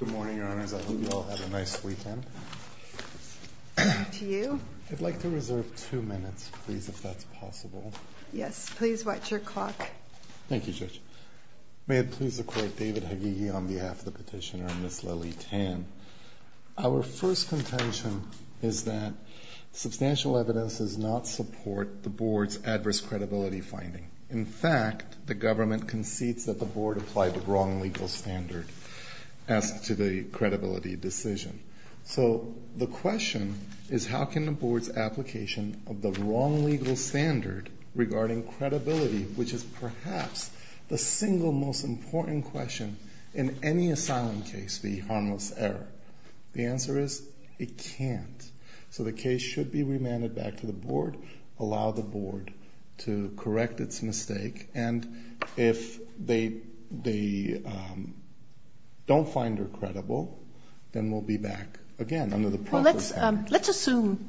Good morning, Your Honors. I hope you all had a nice weekend. Good morning to you. I'd like to reserve two minutes, please, if that's possible. Yes, please watch your clock. Thank you, Judge. May it please the Court, David Hagighi on behalf of the petitioner and Ms. Leli Tan. Our first contention is that substantial evidence does not support the Board's adverse credibility finding. In fact, the government concedes that the Board applied the wrong legal standard. As to the credibility decision. So the question is how can the Board's application of the wrong legal standard regarding credibility, which is perhaps the single most important question in any asylum case be harmless error? The answer is it can't. So the case should be remanded back to the Board, allow the Board to correct its mistake, and if they don't find her credible, then we'll be back again under the process. Well, let's assume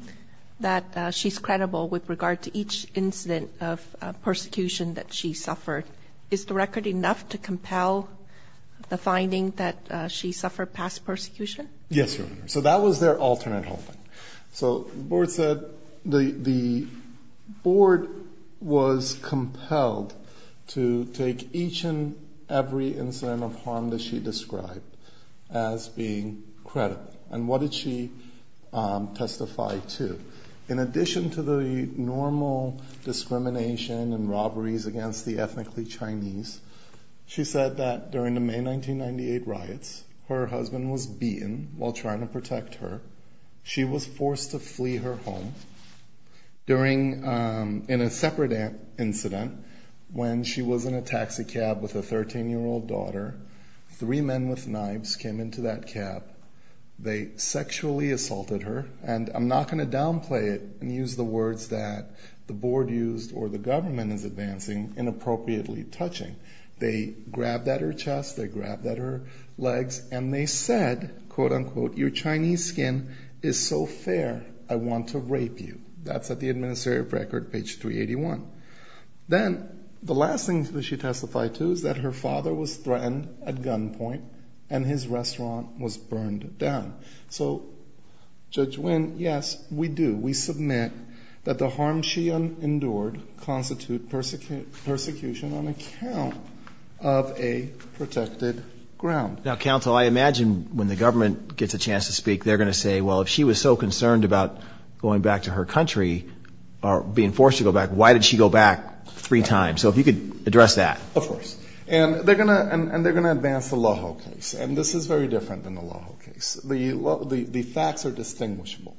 that she's credible with regard to each incident of persecution that she suffered. Is the record enough to compel the finding that she suffered past persecution? Yes, Your Honor. So that was their alternate holding. So the Board said the Board was compelled to take each and every incident of harm that she described as being credible. And what did she testify to? In addition to the normal discrimination and robberies against the ethnically Chinese, she said that during the May 1998 riots, her husband was beaten while trying to protect her. She was forced to flee her home in a separate incident when she was in a taxi cab with a 13-year-old daughter. Three men with knives came into that cab. They sexually assaulted her, and I'm not going to downplay it and use the words that the Board used or the government is advancing inappropriately touching. They grabbed at her chest, they grabbed at her legs, and they said, quote, unquote, your Chinese skin is so fair, I want to rape you. That's at the administrative record, page 381. Then the last thing that she testified to is that her father was threatened at gunpoint and his restaurant was burned down. So Judge Nguyen, yes, we do. We submit that the harm she endured constitute persecution on account of a protected ground. Now, counsel, I imagine when the government gets a chance to speak, they're going to say, well, if she was so concerned about going back to her country or being forced to go back, why did she go back three times? So if you could address that. Of course. And they're going to advance the Lojo case, and this is very different than the Lojo case. The facts are distinguishable.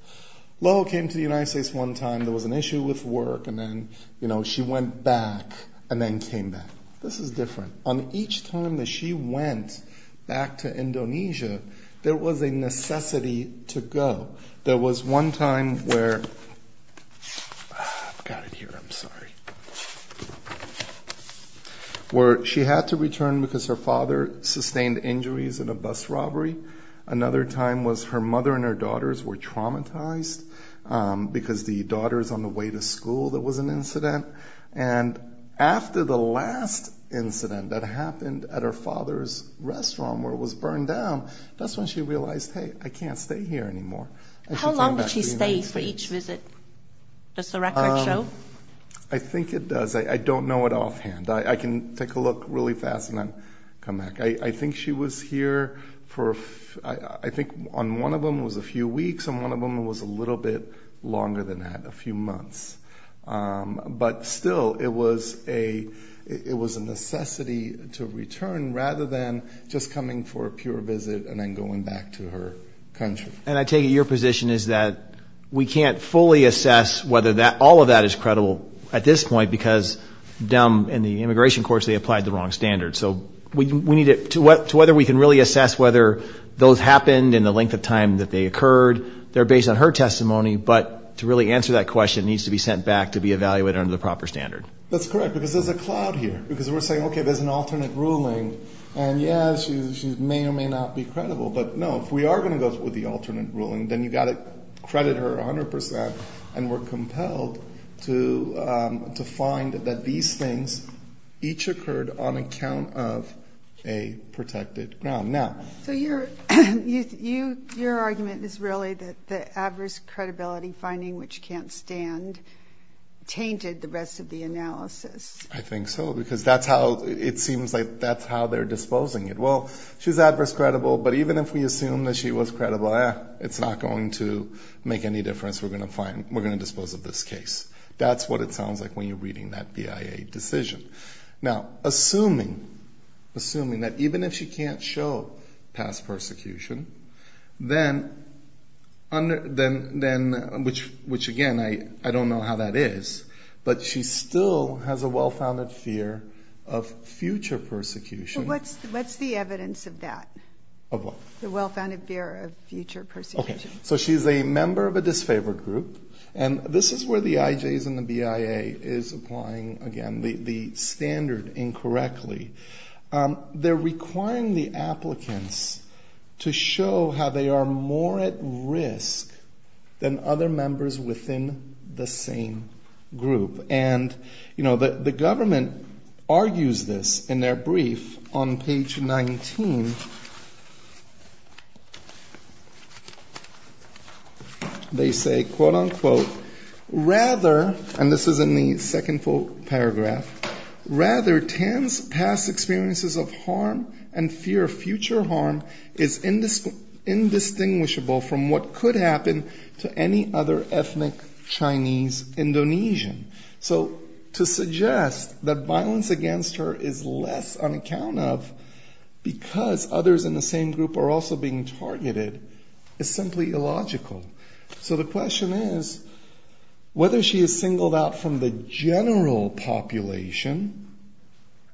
Lojo came to the United States one time. There was an issue with work, and then, you know, she went back and then came back. This is different. On each time that she went back to Indonesia, there was a necessity to go. There was one time where she had to return because her father sustained injuries in a bus robbery. Another time was her mother and her daughters were traumatized because the daughters on the way to school, there was an incident. And after the last incident that happened at her father's restaurant where it was burned down, that's when she realized, hey, I can't stay here anymore. How long did she stay for each visit? Does the record show? I think it does. I don't know it offhand. I can take a look really fast and then come back. I think she was here for, I think on one of them was a few weeks, on one of them was a little bit longer than that, a few months. But still, it was a necessity to return rather than just coming for a pure visit and then going back to her country. And I take it your position is that we can't fully assess whether all of that is credible at this point because down in the immigration courts they applied the wrong standards. So we need to, to whether we can really assess whether those happened in the length of time that they occurred, they're based on her testimony, but to really answer that question, it needs to be sent back to be evaluated under the proper standard. That's correct, because there's a cloud here. Because we're saying, okay, there's an alternate ruling, and, yes, she may or may not be credible. But, no, if we are going to go with the alternate ruling, then you've got to credit her 100 percent. And we're compelled to find that these things each occurred on account of a protected ground. So your argument is really that the adverse credibility finding, which can't stand, tainted the rest of the analysis. I think so, because that's how it seems like that's how they're disposing it. Well, she's adverse credible, but even if we assume that she was credible, it's not going to make any difference. We're going to find, we're going to dispose of this case. That's what it sounds like when you're reading that BIA decision. Now, assuming, assuming that even if she can't show past persecution, then, which, again, I don't know how that is, but she still has a well-founded fear of future persecution. What's the evidence of that? Of what? The well-founded fear of future persecution. Okay. So she's a member of a disfavored group. And this is where the IJs and the BIA is applying, again, the standard incorrectly. They're requiring the applicants to show how they are more at risk than other members within the same group. And, you know, the government argues this in their brief on page 19. They say, quote, unquote, rather, and this is in the second full paragraph, rather, Tan's past experiences of harm and fear of future harm is indistinguishable from what could happen to any other ethnic Chinese Indonesian. So to suggest that violence against her is less on account of because others in the same group are also being targeted is simply illogical. So the question is whether she is singled out from the general population,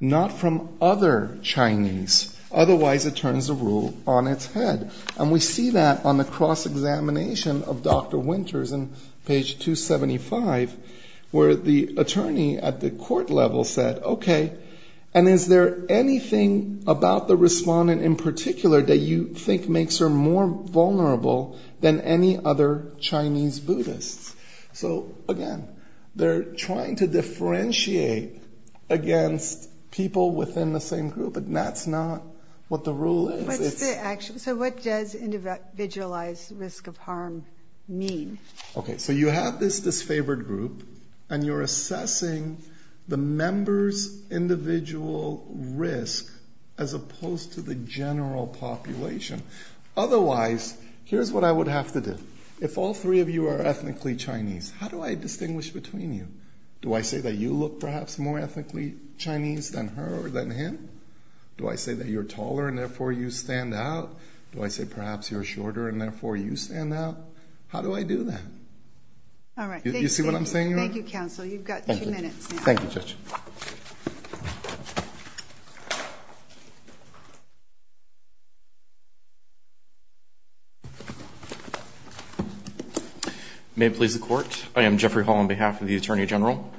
not from other Chinese, otherwise it turns the rule on its head. And we see that on the cross-examination of Dr. Winters on page 275, where the attorney at the court level said, okay, and is there anything about the respondent in particular that you think makes her more vulnerable than any other Chinese Buddhists? So, again, they're trying to differentiate against people within the same group, and that's not what the rule is. So what does individualized risk of harm mean? Okay, so you have this disfavored group, and you're assessing the member's individual risk as opposed to the general population. Otherwise, here's what I would have to do. If all three of you are ethnically Chinese, how do I distinguish between you? Do I say that you look perhaps more ethnically Chinese than her or than him? Do I say that you're taller and therefore you stand out? Do I say perhaps you're shorter and therefore you stand out? How do I do that? All right, thank you. You see what I'm saying? Thank you, counsel. You've got two minutes now. Thank you, Judge. May it please the Court. I am Jeffrey Hall on behalf of the Attorney General.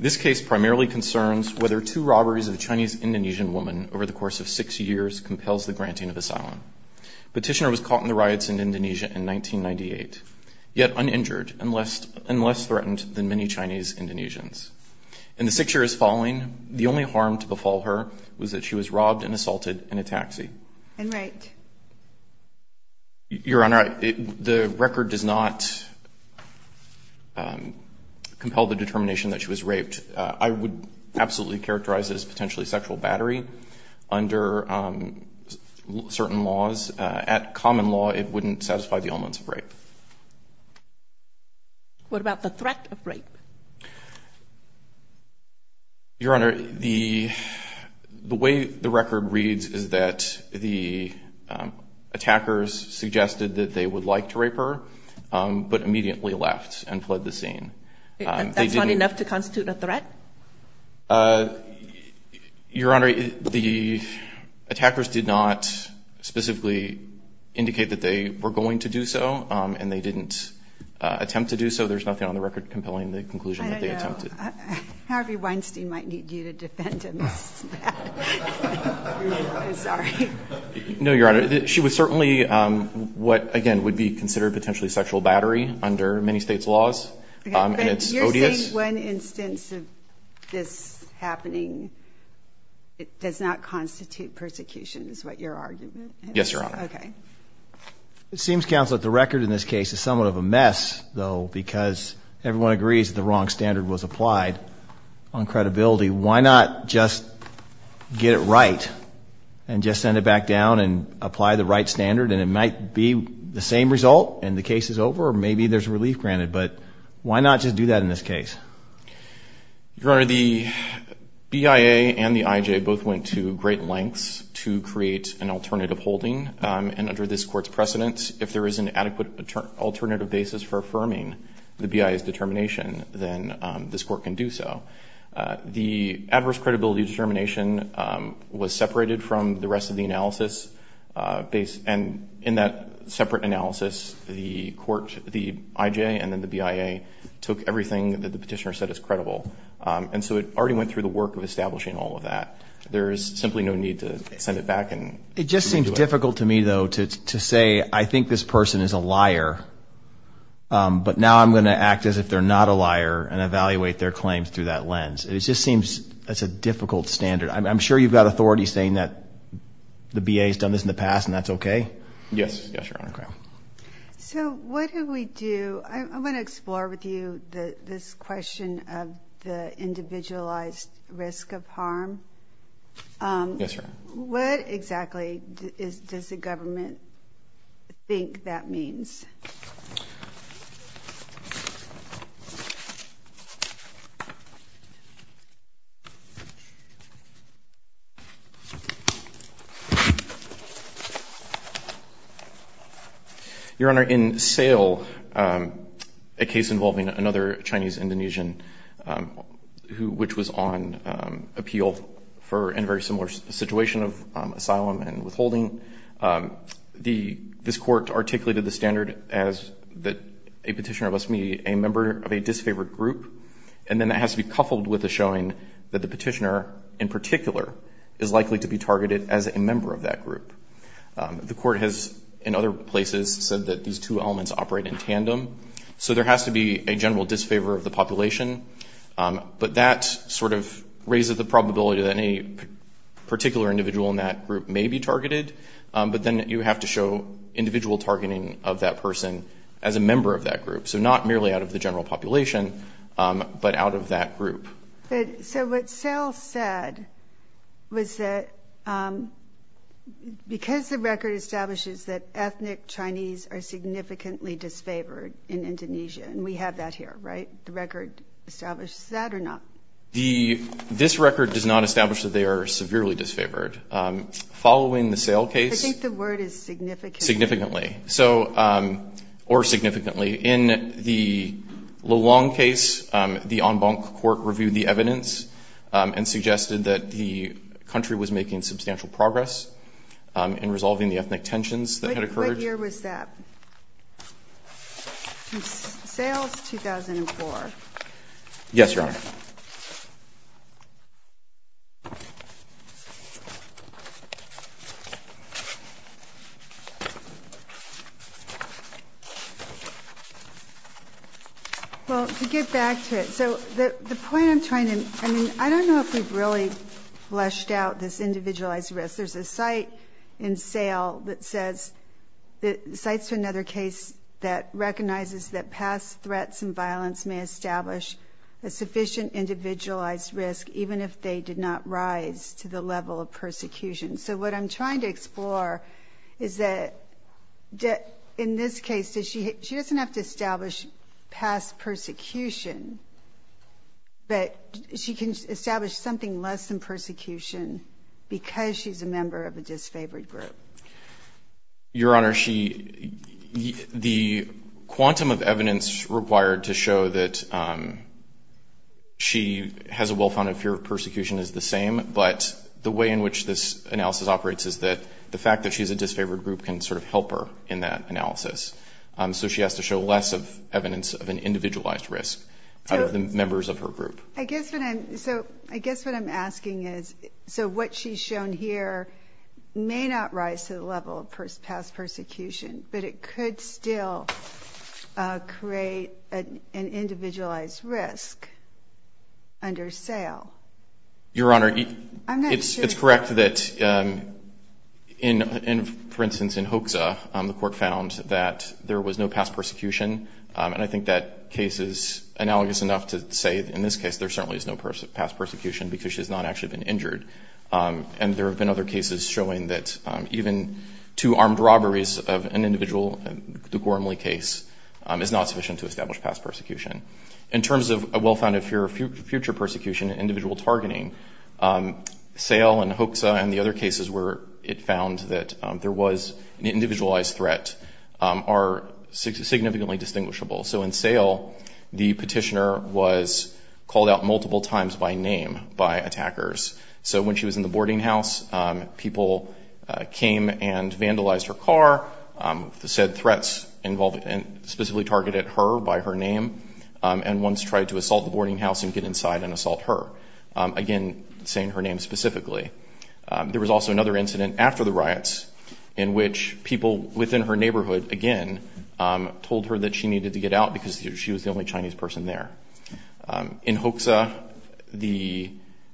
This case primarily concerns whether two robberies of a Chinese-Indonesian woman over the course of six years compels the granting of asylum. Petitioner was caught in the riots in Indonesia in 1998, yet uninjured and less threatened than many Chinese-Indonesians. In the six years following, the only harm to befall her was that she was robbed and assaulted in a taxi. And raped. Your Honor, the record does not compel the determination that she was raped. I would absolutely characterize it as potentially sexual battery under certain laws. At common law, it wouldn't satisfy the elements of rape. What about the threat of rape? Your Honor, the way the record reads is that the attackers suggested that they would like to rape her, but immediately left and fled the scene. That's not enough to constitute a threat? Your Honor, the attackers did not specifically indicate that they were going to do so, and they didn't attempt to do so. There's nothing on the record compelling the conclusion that they attempted. Harvey Weinstein might need you to defend him. Sorry. No, Your Honor. Your Honor, she was certainly what, again, would be considered potentially sexual battery under many states' laws, and it's odious. Okay, but you're saying one instance of this happening does not constitute persecution is what your argument is? Yes, Your Honor. Okay. It seems, Counsel, that the record in this case is somewhat of a mess, though, because everyone agrees that the wrong standard was applied on credibility. Why not just get it right and just send it back down and apply the right standard, and it might be the same result and the case is over, or maybe there's relief granted, but why not just do that in this case? Your Honor, the BIA and the IJ both went to great lengths to create an alternative holding, and under this Court's precedence, if there is an adequate alternative basis for affirming the BIA's determination, then this Court can do so. The adverse credibility determination was separated from the rest of the analysis, and in that separate analysis, the IJ and then the BIA took everything that the petitioner said is credible, and so it already went through the work of establishing all of that. There is simply no need to send it back and redo it. It just seems difficult to me, though, to say, I think this person is a liar, but now I'm going to act as if they're not a liar and evaluate their claims through that lens. It just seems that's a difficult standard. I'm sure you've got authorities saying that the BIA's done this in the past and that's okay? Yes, Your Honor. So what do we do? I want to explore with you this question of the individualized risk of harm. Yes, Your Honor. What exactly does the government think that means? Your Honor, in Sale, a case involving another Chinese-Indonesian which was on appeal for a very similar situation of asylum and withholding, this court articulated the standard as that a petitioner must be a member of a disfavored group, and then that has to be coupled with the showing that the petitioner in particular is likely to be targeted as a member of that group. The court has, in other places, said that these two elements operate in tandem, so there has to be a general disfavor of the population, but that sort of raises the probability that any particular individual in that group may be targeted, but then you have to show individual targeting of that person as a member of that group, so not merely out of the general population but out of that group. So what Sale said was that because the record establishes that ethnic Chinese are significantly disfavored in Indonesia, and we have that here, right? The record establishes that or not? This record does not establish that they are severely disfavored. Following the Sale case ---- I think the word is significantly. ----significantly, or significantly. In the Lelong case, the en banc court reviewed the evidence and suggested that the country was making substantial progress in resolving the ethnic tensions that had occurred. What year was that? Sale is 2004. Yes, Your Honor. Well, to get back to it, so the point I'm trying to ---- I mean, I don't know if we've really fleshed out this individualized risk. There's a cite in Sale that says ---- the cite's another case that recognizes that past threats and violence may establish a sufficient individualized risk, even if they did not rise to the level of persecution. So what I'm trying to explore is that in this case, she doesn't have to establish past persecution, but she can establish something less than persecution because she's a member of a disfavored group. Your Honor, she ---- the quantum of evidence required to show that she has a well-founded fear of persecution is the same, but the way in which this analysis operates is that the fact that she's a disfavored group can sort of help her in that analysis. So she has to show less of evidence of an individualized risk out of the members of her group. So I guess what I'm asking is, so what she's shown here may not rise to the level of past persecution, but it could still create an individualized risk under Sale. Your Honor, it's correct that in ---- the court found that there was no past persecution, and I think that case is analogous enough to say that in this case there certainly is no past persecution because she's not actually been injured. And there have been other cases showing that even two armed robberies of an individual, the Gormley case, is not sufficient to establish past persecution. In terms of a well-founded fear of future persecution and individual targeting, Sale and Hoekse and the other cases where it found that there was an individualized threat are significantly distinguishable. So in Sale, the petitioner was called out multiple times by name by attackers. So when she was in the boarding house, people came and vandalized her car, said threats specifically targeted her by her name, and once tried to assault the boarding house and get inside and assault her. Again, saying her name specifically. There was also another incident after the riots in which people within her neighborhood, again, told her that she needed to get out because she was the only Chinese person there. In Hoekse, the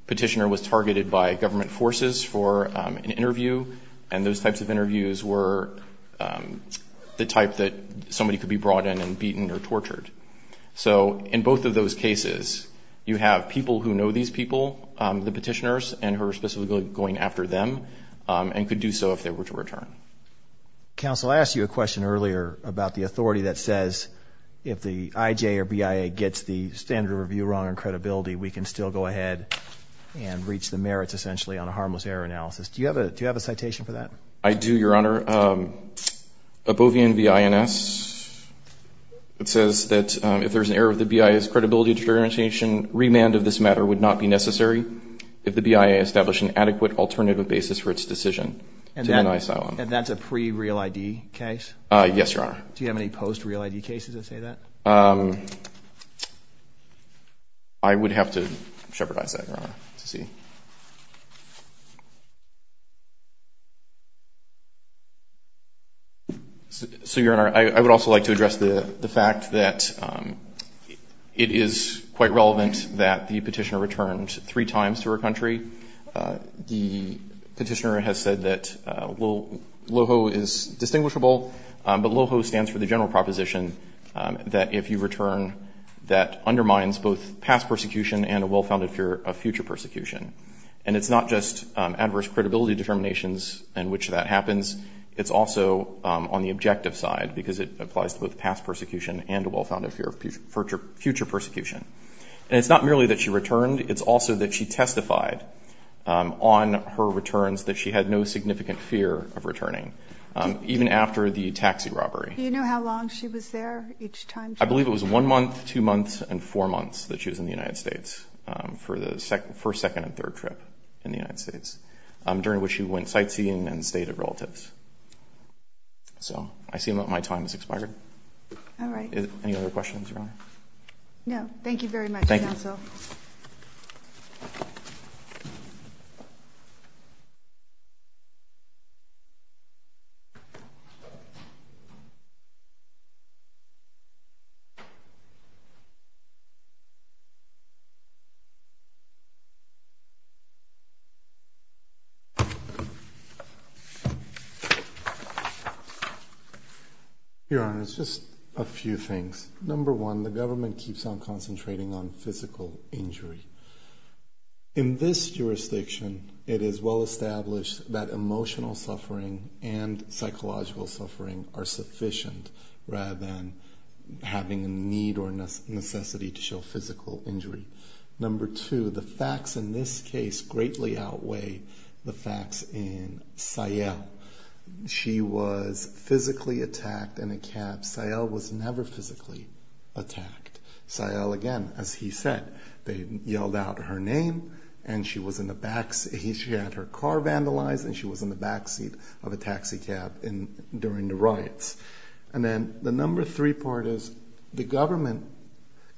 petitioner was targeted by government forces for an interview, and those types of interviews were the type that somebody could be brought in and beaten or tortured. So in both of those cases, you have people who know these people, the petitioners, and who are specifically going after them and could do so if they were to return. Counsel, I asked you a question earlier about the authority that says if the IJ or BIA gets the standard of review wrong on credibility, we can still go ahead and reach the merits essentially on a harmless error analysis. Do you have a citation for that? I do, Your Honor. A Bovian V.I.N.S. It says that if there's an error of the BIA's credibility determination, remand of this matter would not be necessary if the BIA established an adequate alternative basis for its decision to deny asylum. And that's a pre-real ID case? Yes, Your Honor. Do you have any post-real ID cases that say that? I would have to shepherdize that, Your Honor, to see. So, Your Honor, I would also like to address the fact that it is quite relevant that the petitioner returned three times to her country. The petitioner has said that LOHO is distinguishable, but LOHO stands for the general proposition that if you return, that undermines both past persecution and a well-founded fear of future persecution. And it's not just adverse credibility determinations in which that happens. It's also on the objective side because it applies to both past persecution and a well-founded fear of future persecution. And it's not merely that she returned. It's also that she testified on her returns that she had no significant fear of returning. Even after the taxi robbery. Do you know how long she was there each time? I believe it was one month, two months, and four months that she was in the United States for the first, second, and third trip in the United States, during which she went sightseeing and stayed at relatives. So I assume that my time has expired. All right. Any other questions, Your Honor? No. Thank you very much, counsel. Thank you. Thank you. Your Honor, it's just a few things. Number one, the government keeps on concentrating on physical injury. In this jurisdiction, it is well-established that emotional suffering and psychological suffering are sufficient rather than having a need or necessity to show physical injury. Number two, the facts in this case greatly outweigh the facts in Sayal. She was physically attacked in a cab. Sayal was never physically attacked. Sayal, again, as he said, they yelled out her name, and she had her car vandalized, and she was in the backseat of a taxi cab during the riots. And then the number three part is the government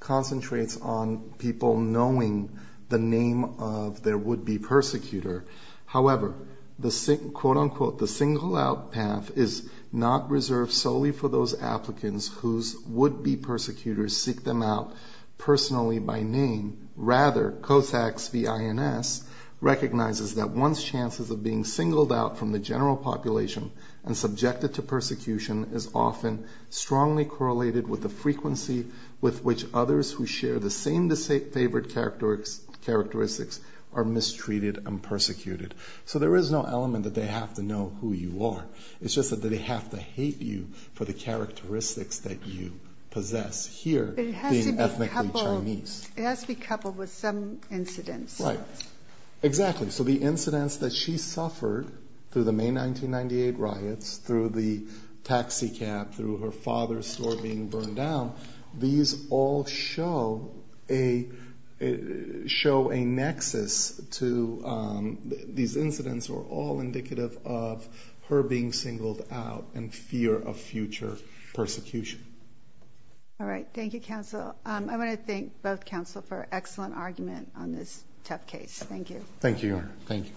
concentrates on people knowing the name of their would-be persecutor. However, the single out path is not reserved solely for those applicants whose would-be persecutors seek them out personally by name. Rather, COSAX v. INS recognizes that one's chances of being singled out from the general population and subjected to persecution is often strongly correlated with the frequency with which others who share the same favored characteristics are mistreated and persecuted. So there is no element that they have to know who you are. It's just that they have to hate you for the characteristics that you possess here being ethnically Chinese. It has to be coupled with some incidents. Right. Exactly. So the incidents that she suffered through the May 1998 riots, through the taxi cab, through her father's store being burned down, these all show a nexus to these incidents or all indicative of her being singled out in fear of future persecution. All right. Thank you, counsel. I want to thank both counsel for an excellent argument on this tough case. Thank you. Thank you, Your Honor. Thank you.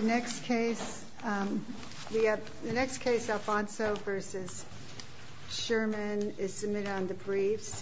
The next case, Alfonso v. Sherman, is submitted on the briefs.